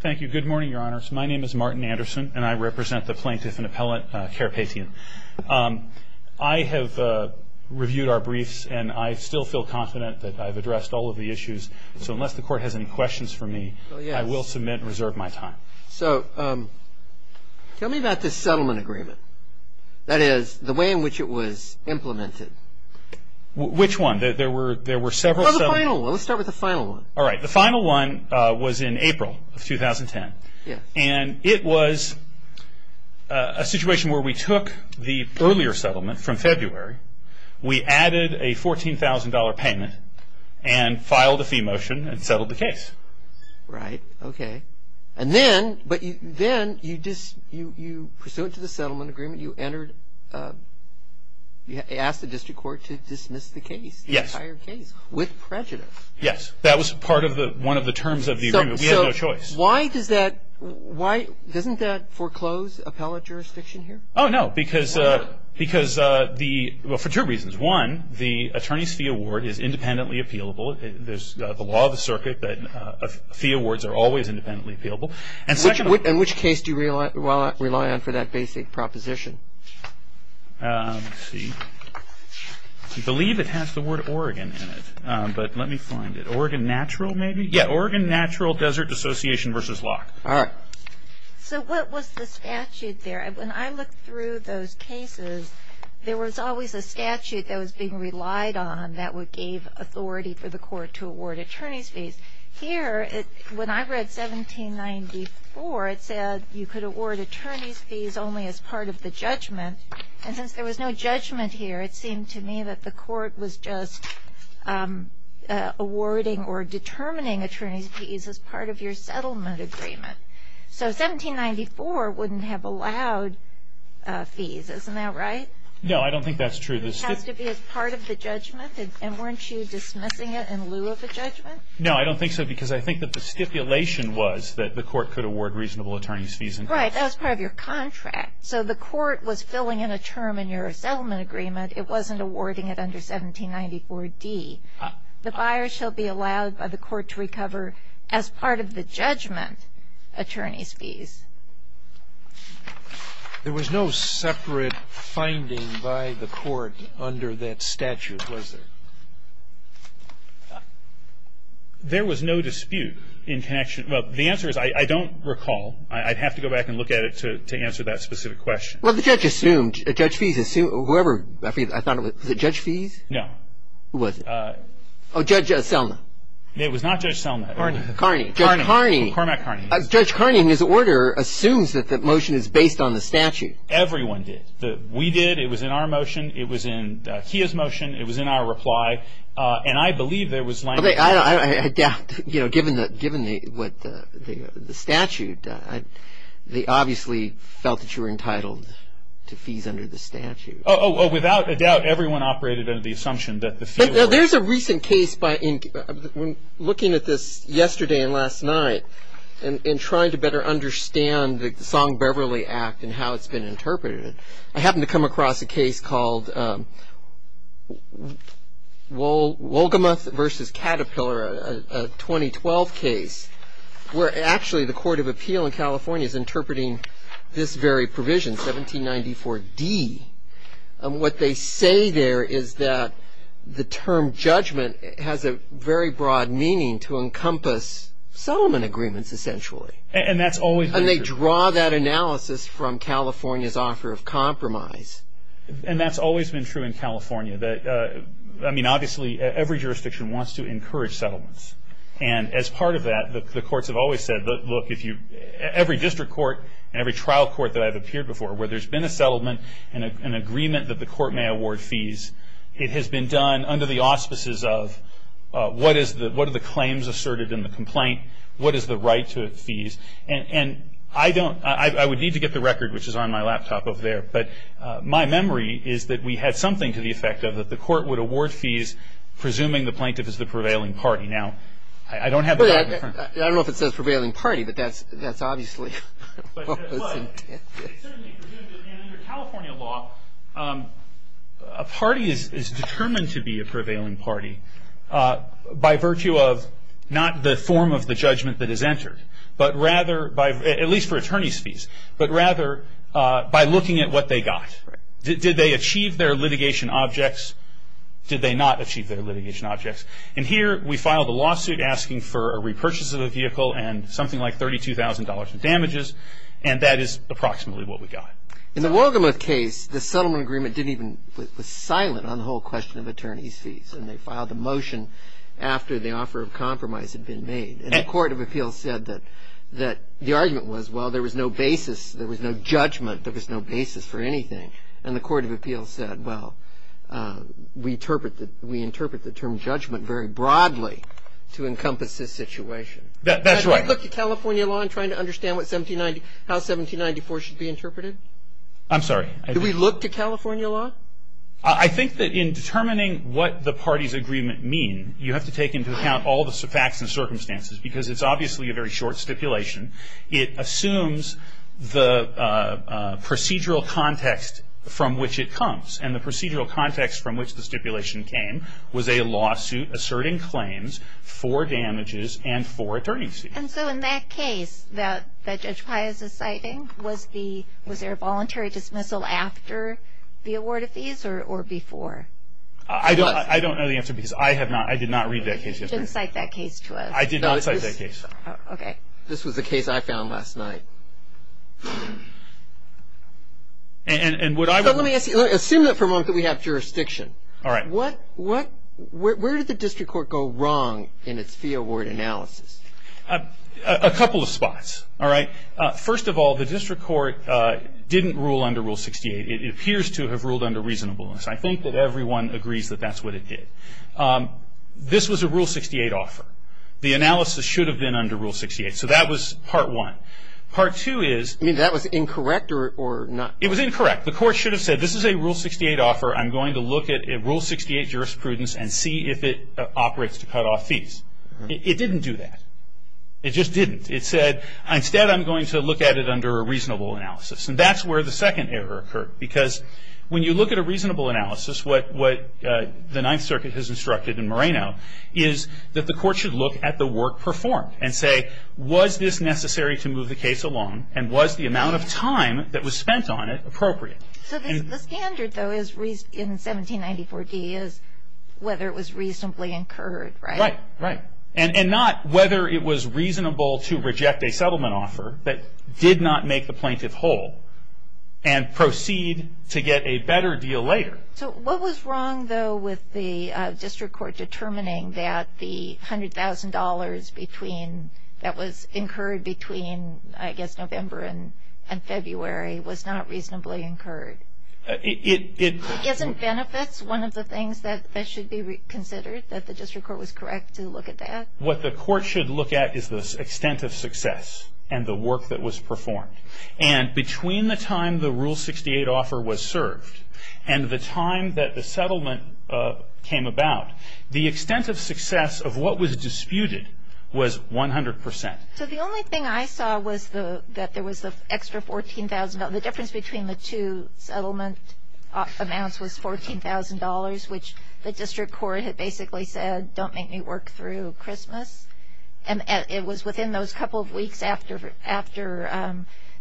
Thank you. Good morning, your honors. My name is Martin Anderson, and I represent the plaintiff and appellate, Karapetian. I have reviewed our briefs, and I still feel confident that I've addressed all of the issues. So unless the court has any questions for me, I will submit and reserve my time. So tell me about this settlement agreement. That is, the way in which it was implemented. Which one? There were several settlement agreements. Well, the final one. Let's start with the final one. The final one was in April of 2010, and it was a situation where we took the earlier settlement from February, we added a $14,000 payment, and filed a fee motion and settled the case. Right. Okay. And then, you pursued it to the settlement agreement, you asked the district court to dismiss the case, the entire case, with prejudice. Yes. That was part of the, one of the terms of the agreement. We had no choice. So, why does that, why, doesn't that foreclose appellate jurisdiction here? Oh, no. Because, because the, well, for two reasons. One, the attorney's fee award is independently appealable. There's the law of the circuit that fee awards are always independently appealable. And second... In which case do you rely on for that basic proposition? Let's see. I believe it has the word Oregon in it, but let me find it. Oregon Natural, maybe? Yeah. Oregon Natural Desert Association versus Locke. All right. So, what was the statute there? When I looked through those cases, there was always a statute that was being relied on that would give authority for the court to award attorney's fees. Here, when I read 1794, it said you could award attorney's fees only as part of the judgment. And since there was no judgment here, it seemed to me that the court was just awarding or determining attorney's fees as part of your settlement agreement. So, 1794 wouldn't have allowed fees. Isn't that right? No. I don't think that's true. It has to be as part of the judgment? And weren't you dismissing it in lieu of a judgment? No. I don't think so because I think that the stipulation was that the court could award reasonable attorney's fees. Right. That was part of your contract. So, the court was filling in a term in your settlement agreement. It wasn't awarding it under 1794d. The buyer shall be allowed by the court to recover as part of the judgment attorney's fees. There was no separate finding by the court under that statute, was there? There was no dispute in connection. Well, the answer is I don't recall. I'd have to go back and look at it to answer that specific question. Well, the judge assumed. Judge Fees assumed. I forget. Was it Judge Fees? No. Who was it? Oh, Judge Selma. It was not Judge Selma. Carney. Judge Carney. Cormac Carney. Judge Carney and his order assumes that the motion is based on the statute. Everyone did. We did. It was in our motion. It was in Kia's motion. It was in our reply. And I believe there was language. I doubt, you know, given the statute, they obviously felt that you were entitled to fees under the statute. Oh, without a doubt, everyone operated under the assumption that the fee was. There's a recent case looking at this yesterday and last night and trying to better understand the Song-Beverly Act and how it's been interpreted. I happened to come across a case called Wolgamoth v. Caterpillar, a 2012 case, where actually the Court of Appeal in California is interpreting this very provision, 1794D. What they say there is that the term judgment has a very broad meaning to encompass settlement agreements, essentially. And that's always been true. And they draw that analysis from California's offer of compromise. And that's always been true in California. I mean, obviously, every jurisdiction wants to encourage settlements. And as part of that, the courts have always said, look, every district court and every trial court that I've appeared before where there's been a settlement and an agreement that the court may award fees, it has been done under the auspices of What are the claims asserted in the complaint? What is the right to fees? And I don't – I would need to get the record, which is on my laptop over there. But my memory is that we had something to the effect of that the court would award fees presuming the plaintiff is the prevailing party. Now, I don't have the record in front of me. I don't know if it says prevailing party, but that's obviously – And under California law, a party is determined to be a prevailing party by virtue of not the form of the judgment that is entered, but rather – at least for attorney's fees – but rather by looking at what they got. Did they achieve their litigation objects? Did they not achieve their litigation objects? And here, we filed a lawsuit asking for a repurchase of the vehicle and something like $32,000 in damages, and that is approximately what we got. In the Wogelmuth case, the settlement agreement didn't even – was silent on the whole question of attorney's fees, and they filed a motion after the offer of compromise had been made. And the court of appeals said that – the argument was, well, there was no basis. There was no judgment. There was no basis for anything. And the court of appeals said, well, we interpret the term judgment very broadly to encompass this situation. That's right. Did we look to California law in trying to understand what 1790 – how 1794 should be interpreted? I'm sorry. Did we look to California law? I think that in determining what the party's agreement means, you have to take into account all the facts and circumstances because it's obviously a very short stipulation. It assumes the procedural context from which it comes, and the procedural context from which the stipulation came was a lawsuit asserting claims for damages and for attorney's fees. And so in that case that Judge Pius is citing, was there a voluntary dismissal after the award of fees or before? I don't know the answer because I have not – I did not read that case. You didn't cite that case to us. I did not cite that case. Okay. This was the case I found last night. Assume that for a moment we have jurisdiction. All right. What – where did the district court go wrong in its fee award analysis? A couple of spots. All right. First of all, the district court didn't rule under Rule 68. It appears to have ruled under reasonableness. I think that everyone agrees that that's what it did. This was a Rule 68 offer. The analysis should have been under Rule 68. So that was part one. Part two is – You mean that was incorrect or not – It was incorrect. The court should have said this is a Rule 68 offer. I'm going to look at Rule 68 jurisprudence and see if it operates to cut off fees. It didn't do that. It just didn't. It said instead I'm going to look at it under a reasonable analysis. And that's where the second error occurred because when you look at a reasonable analysis, what the Ninth Circuit has instructed in Moreno is that the court should look at the work performed and say, was this necessary to move the case along and was the amount of time that was spent on it appropriate? So the standard, though, in 1794d is whether it was reasonably incurred, right? Right. And not whether it was reasonable to reject a settlement offer that did not make the plaintiff whole and proceed to get a better deal later. So what was wrong, though, with the district court determining that the $100,000 that was incurred between, I guess, November and February was not reasonably incurred? Isn't benefits one of the things that should be considered, that the district court was correct to look at that? What the court should look at is the extent of success and the work that was performed. And between the time the Rule 68 offer was served and the time that the settlement came about, the extent of success of what was disputed was 100%. So the only thing I saw was that there was an extra $14,000. The difference between the two settlement amounts was $14,000, which the district court had basically said, don't make me work through Christmas. And it was within those couple of weeks after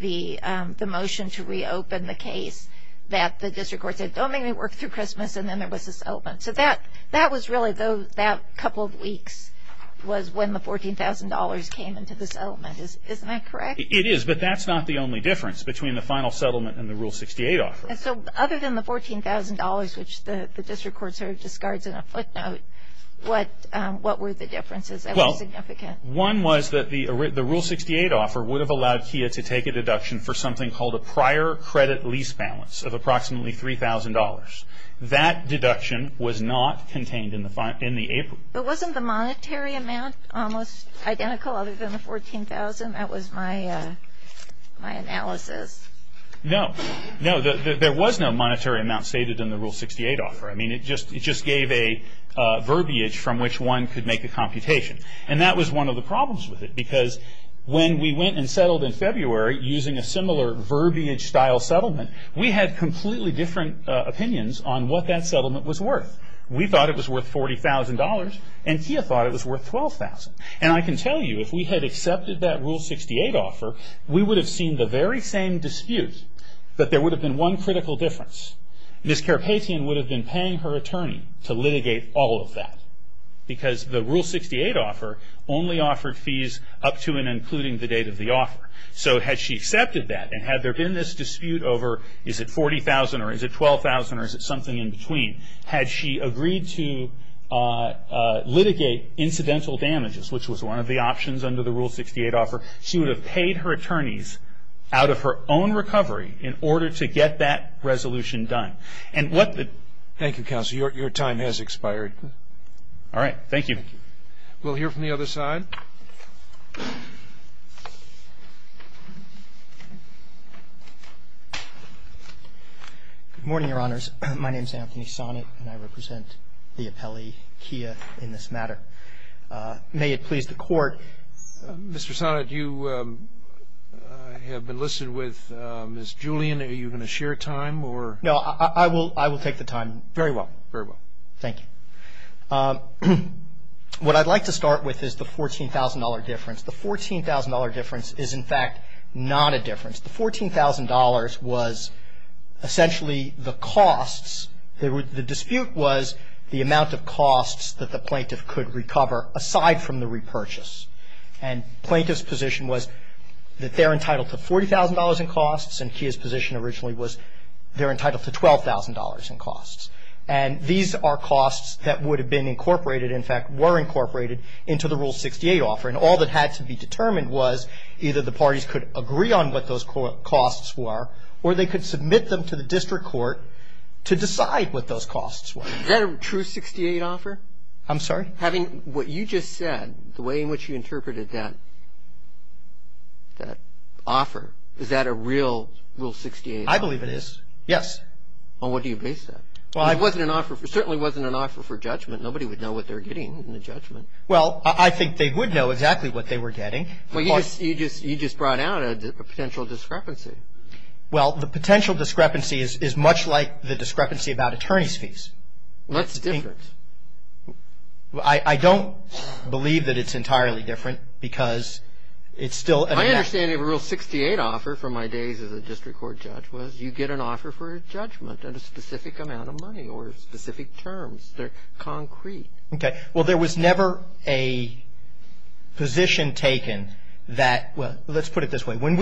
the motion to reopen the case that the district court said, don't make me work through Christmas, and then there was a settlement. So that was really, that couple of weeks was when the $14,000 came into the settlement. Isn't that correct? It is, but that's not the only difference between the final settlement and the Rule 68 offer. So other than the $14,000, which the district court sort of discards in a footnote, what were the differences that were significant? Well, one was that the Rule 68 offer would have allowed KIA to take a deduction for something called a prior credit lease balance of approximately $3,000. That deduction was not contained in the April. But wasn't the monetary amount almost identical other than the $14,000? That was my analysis. No. No, there was no monetary amount stated in the Rule 68 offer. I mean, it just gave a verbiage from which one could make a computation. And that was one of the problems with it, because when we went and settled in February using a similar verbiage-style settlement, we had completely different opinions on what that settlement was worth. We thought it was worth $40,000, and KIA thought it was worth $12,000. And I can tell you, if we had accepted that Rule 68 offer, we would have seen the very same dispute, but there would have been one critical difference. Ms. Karpatian would have been paying her attorney to litigate all of that, because the Rule 68 offer only offered fees up to and including the date of the offer. So had she accepted that, and had there been this dispute over, is it $40,000 or is it $12,000 or is it something in between, had she agreed to litigate incidental damages, which was one of the options under the Rule 68 offer, she would have paid her attorneys out of her own recovery in order to get that resolution done. And what the... Thank you, counsel. Your time has expired. All right. Thank you. We'll hear from the other side. Good morning, Your Honors. My name is Anthony Sonnett, and I represent the appellee, Kia, in this matter. May it please the Court. Mr. Sonnett, you have been listed with Ms. Julian. Are you going to share time or... No, I will take the time. Very well. Very well. Thank you. What I'd like to start with is the $14,000 difference. The $14,000 difference is, in fact, not a difference. The $14,000 was essentially the costs. The dispute was the amount of costs that the plaintiff could recover aside from the repurchase. And plaintiff's position was that they're entitled to $40,000 in costs, and Kia's position originally was they're entitled to $12,000 in costs. And these are costs that would have been incorporated, in fact, were incorporated, into the Rule 68 offer. And all that had to be determined was either the parties could agree on what those costs were or they could submit them to the district court to decide what those costs were. Is that a true 68 offer? I'm sorry? Having what you just said, the way in which you interpreted that offer, is that a real Rule 68 offer? I believe it is, yes. Well, what do you base that? Well, I... It certainly wasn't an offer for judgment. Nobody would know what they were getting in the judgment. Well, I think they would know exactly what they were getting. Well, you just brought out a potential discrepancy. Well, the potential discrepancy is much like the discrepancy about attorney's fees. Well, that's different. I don't believe that it's entirely different because it's still an amount... My understanding of a Rule 68 offer from my days as a district court judge was you get an offer for judgment at a specific amount of money or specific terms. They're concrete. Okay. Well, there was never a position taken that... Well, let's put it this way. When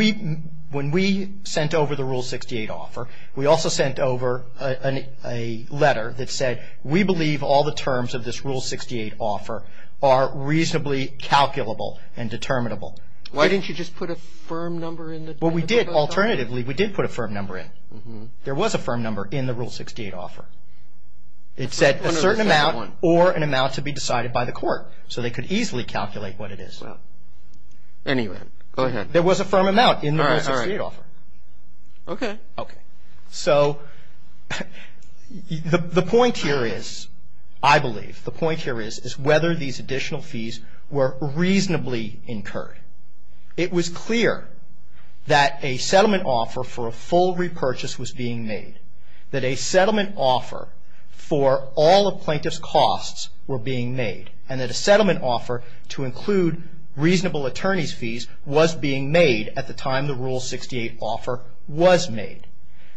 we sent over the Rule 68 offer, we also sent over a letter that said, we believe all the terms of this Rule 68 offer are reasonably calculable and determinable. Why didn't you just put a firm number in the... Well, we did. Alternatively, we did put a firm number in. There was a firm number in the Rule 68 offer. It said a certain amount or an amount to be decided by the court so they could easily calculate what it is. Well, anyway, go ahead. There was a firm amount in the Rule 68 offer. All right, all right. Okay. Okay. So the point here is, I believe, the point here is whether these additional fees were reasonably incurred. It was clear that a settlement offer for a full repurchase was being made, that a settlement offer for all a plaintiff's costs were being made, and that a settlement offer to include reasonable attorney's fees was being made at the time the Rule 68 offer was made.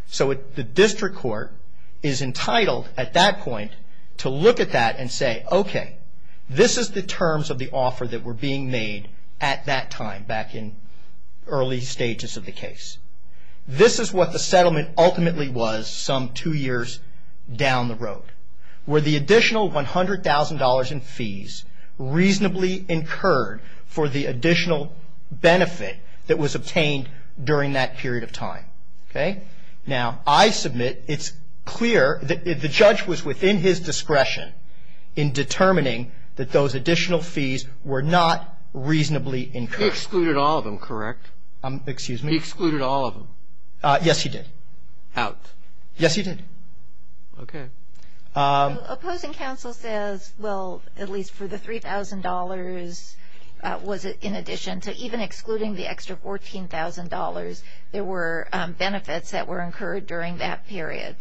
So the district court is entitled, at that point, to look at that and say, okay, this is the terms of the offer that were being made at that time, back in early stages of the case. This is what the settlement ultimately was some two years down the road, where the additional $100,000 in fees reasonably incurred for the additional benefit that was obtained during that period of time. Okay? Now, I submit it's clear that the judge was within his discretion in determining that those additional fees were not reasonably incurred. He excluded all of them, correct? Excuse me? He excluded all of them. Yes, he did. Out. Yes, he did. Okay. Opposing counsel says, well, at least for the $3,000, was it in addition to even excluding the extra $14,000, there were benefits that were incurred during that period.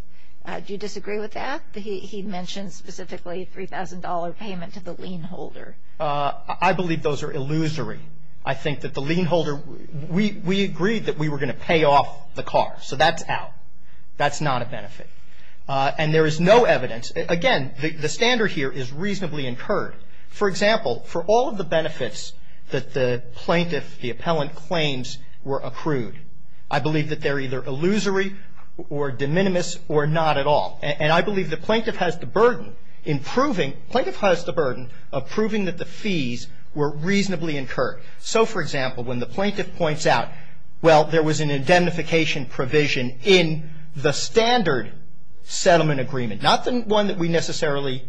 Do you disagree with that? He mentioned specifically $3,000 payment to the lien holder. I believe those are illusory. I think that the lien holder, we agreed that we were going to pay off the car, so that's out. That's not a benefit. And there is no evidence. Again, the standard here is reasonably incurred. For example, for all of the benefits that the plaintiff, the appellant claims were accrued, I believe that they're either illusory or de minimis or not at all. And I believe the plaintiff has the burden in proving, plaintiff has the burden of proving that the fees were reasonably incurred. So, for example, when the plaintiff points out, well, there was an indemnification provision in the standard settlement agreement, not the one that we necessarily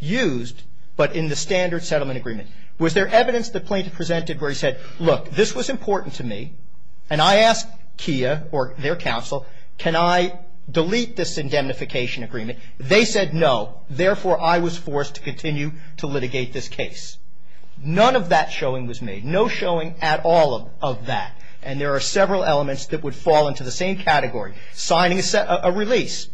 used, but in the standard settlement agreement. Was there evidence the plaintiff presented where he said, look, this was important to me, and I asked Kia or their counsel, can I delete this indemnification agreement? They said no. Therefore, I was forced to continue to litigate this case. None of that showing was made. No showing at all of that. And there are several elements that would fall into the same category. Signing a release.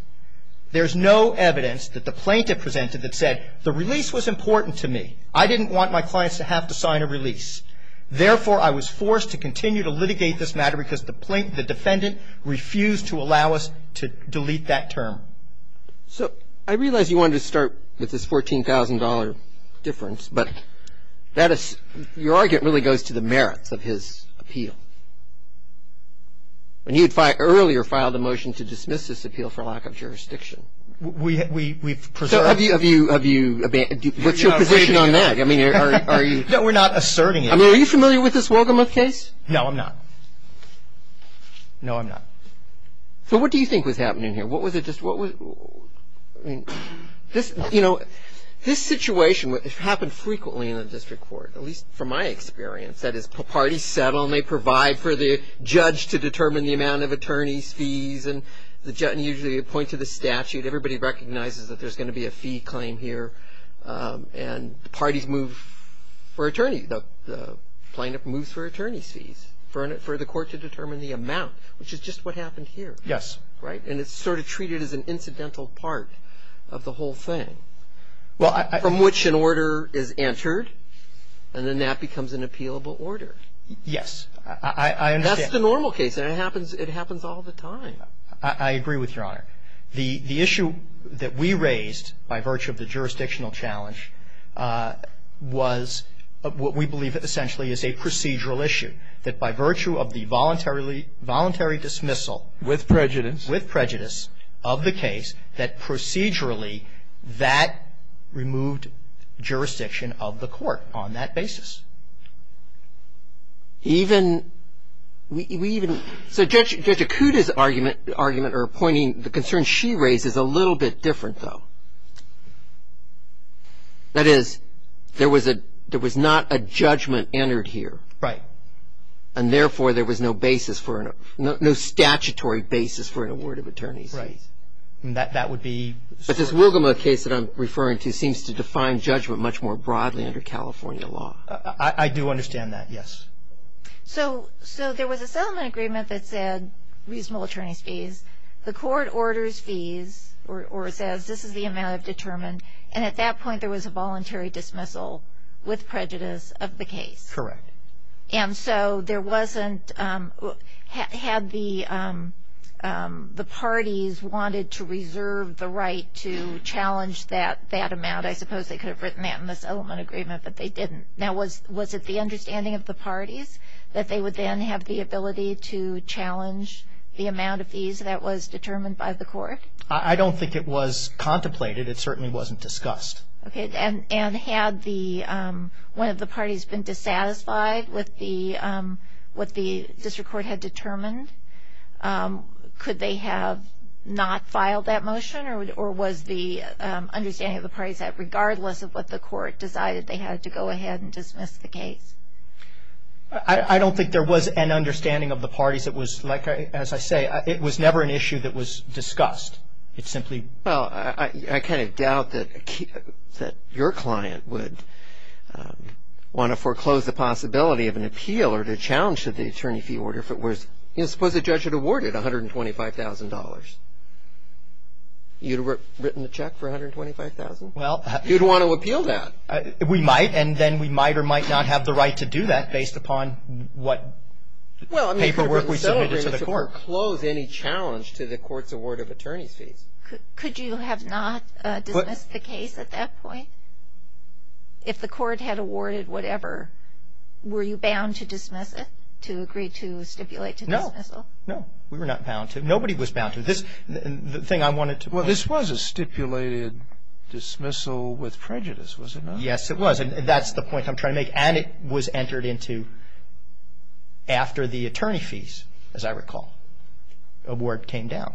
There's no evidence that the plaintiff presented that said the release was important to me. I didn't want my clients to have to sign a release. Therefore, I was forced to continue to litigate this matter because the defendant refused to allow us to delete that term. So I realize you wanted to start with this $14,000 difference, but that is, your argument really goes to the merits of his appeal. And you had earlier filed a motion to dismiss this appeal for lack of jurisdiction. We've preserved it. So have you, have you, what's your position on that? I mean, are you? No, we're not asserting it. I mean, are you familiar with this Wolgamoth case? No, I'm not. No, I'm not. So what do you think was happening here? What was it just, what was, I mean, this, you know, this situation happened frequently in the district court, at least from my experience. That is, parties settle and they provide for the judge to determine the amount of attorney's fees and the judge, and usually they point to the statute. Everybody recognizes that there's going to be a fee claim here. And the parties move for attorney, the plaintiff moves for attorney's fees for the court to determine the amount, which is just what happened here. Yes. Right? And it's sort of treated as an incidental part of the whole thing. Well, I. From which an order is entered, and then that becomes an appealable order. Yes. I understand. That's the normal case, and it happens, it happens all the time. I agree with Your Honor. The issue that we raised by virtue of the jurisdictional challenge was what we believe essentially is a procedural issue, that by virtue of the voluntary dismissal. With prejudice. With prejudice of the case that procedurally that removed jurisdiction of the court on that basis. Even, we even, so Judge Acuda's argument, argument or pointing, the concern she raised is a little bit different though. That is, there was a, there was not a judgment entered here. Right. And therefore, there was no basis for, no statutory basis for an award of attorney's fees. Right. And that would be. But this Wilgama case that I'm referring to seems to define judgment much more broadly under California law. I do understand that, yes. So, so there was a settlement agreement that said reasonable attorney's fees. The court orders fees, or says this is the amount of determined, and at that point there was a voluntary dismissal with prejudice of the case. Correct. And so there wasn't, had the, the parties wanted to reserve the right to challenge that, that amount, I suppose they could have written that in the settlement agreement, but they didn't. Now was, was it the understanding of the parties that they would then have the ability to challenge the amount of fees that was determined by the court? I don't think it was contemplated. It certainly wasn't discussed. Okay. And, and had the, one of the parties been dissatisfied with the, what the district court had determined, could they have not filed that motion, or was the understanding of the parties that regardless of what the court decided, they had to go ahead and dismiss the case? I don't think there was an understanding of the parties. It was like, as I say, it was never an issue that was discussed. It simply. Well, I, I kind of doubt that, that your client would want to foreclose the possibility of an appeal or to challenge to the attorney fee order if it was, you know, suppose the judge had awarded $125,000. You'd have written the check for $125,000? Well. You'd want to appeal that. We might, and then we might or might not have the right to do that based upon what. Well, I mean. Paperwork we submitted to the court. I don't think we foreclose any challenge to the court's award of attorney fees. Could you have not dismissed the case at that point? If the court had awarded whatever, were you bound to dismiss it, to agree to stipulate to dismissal? No. No, we were not bound to. Nobody was bound to. This, the thing I wanted to. Well, this was a stipulated dismissal with prejudice, was it not? Yes, it was. That's the point I'm trying to make. And it was entered into after the attorney fees, as I recall, award came down.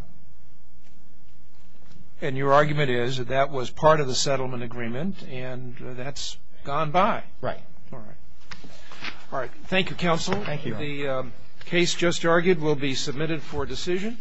And your argument is that that was part of the settlement agreement and that's gone by. Right. All right. All right. Thank you, counsel. Thank you. The case just argued will be submitted for decision.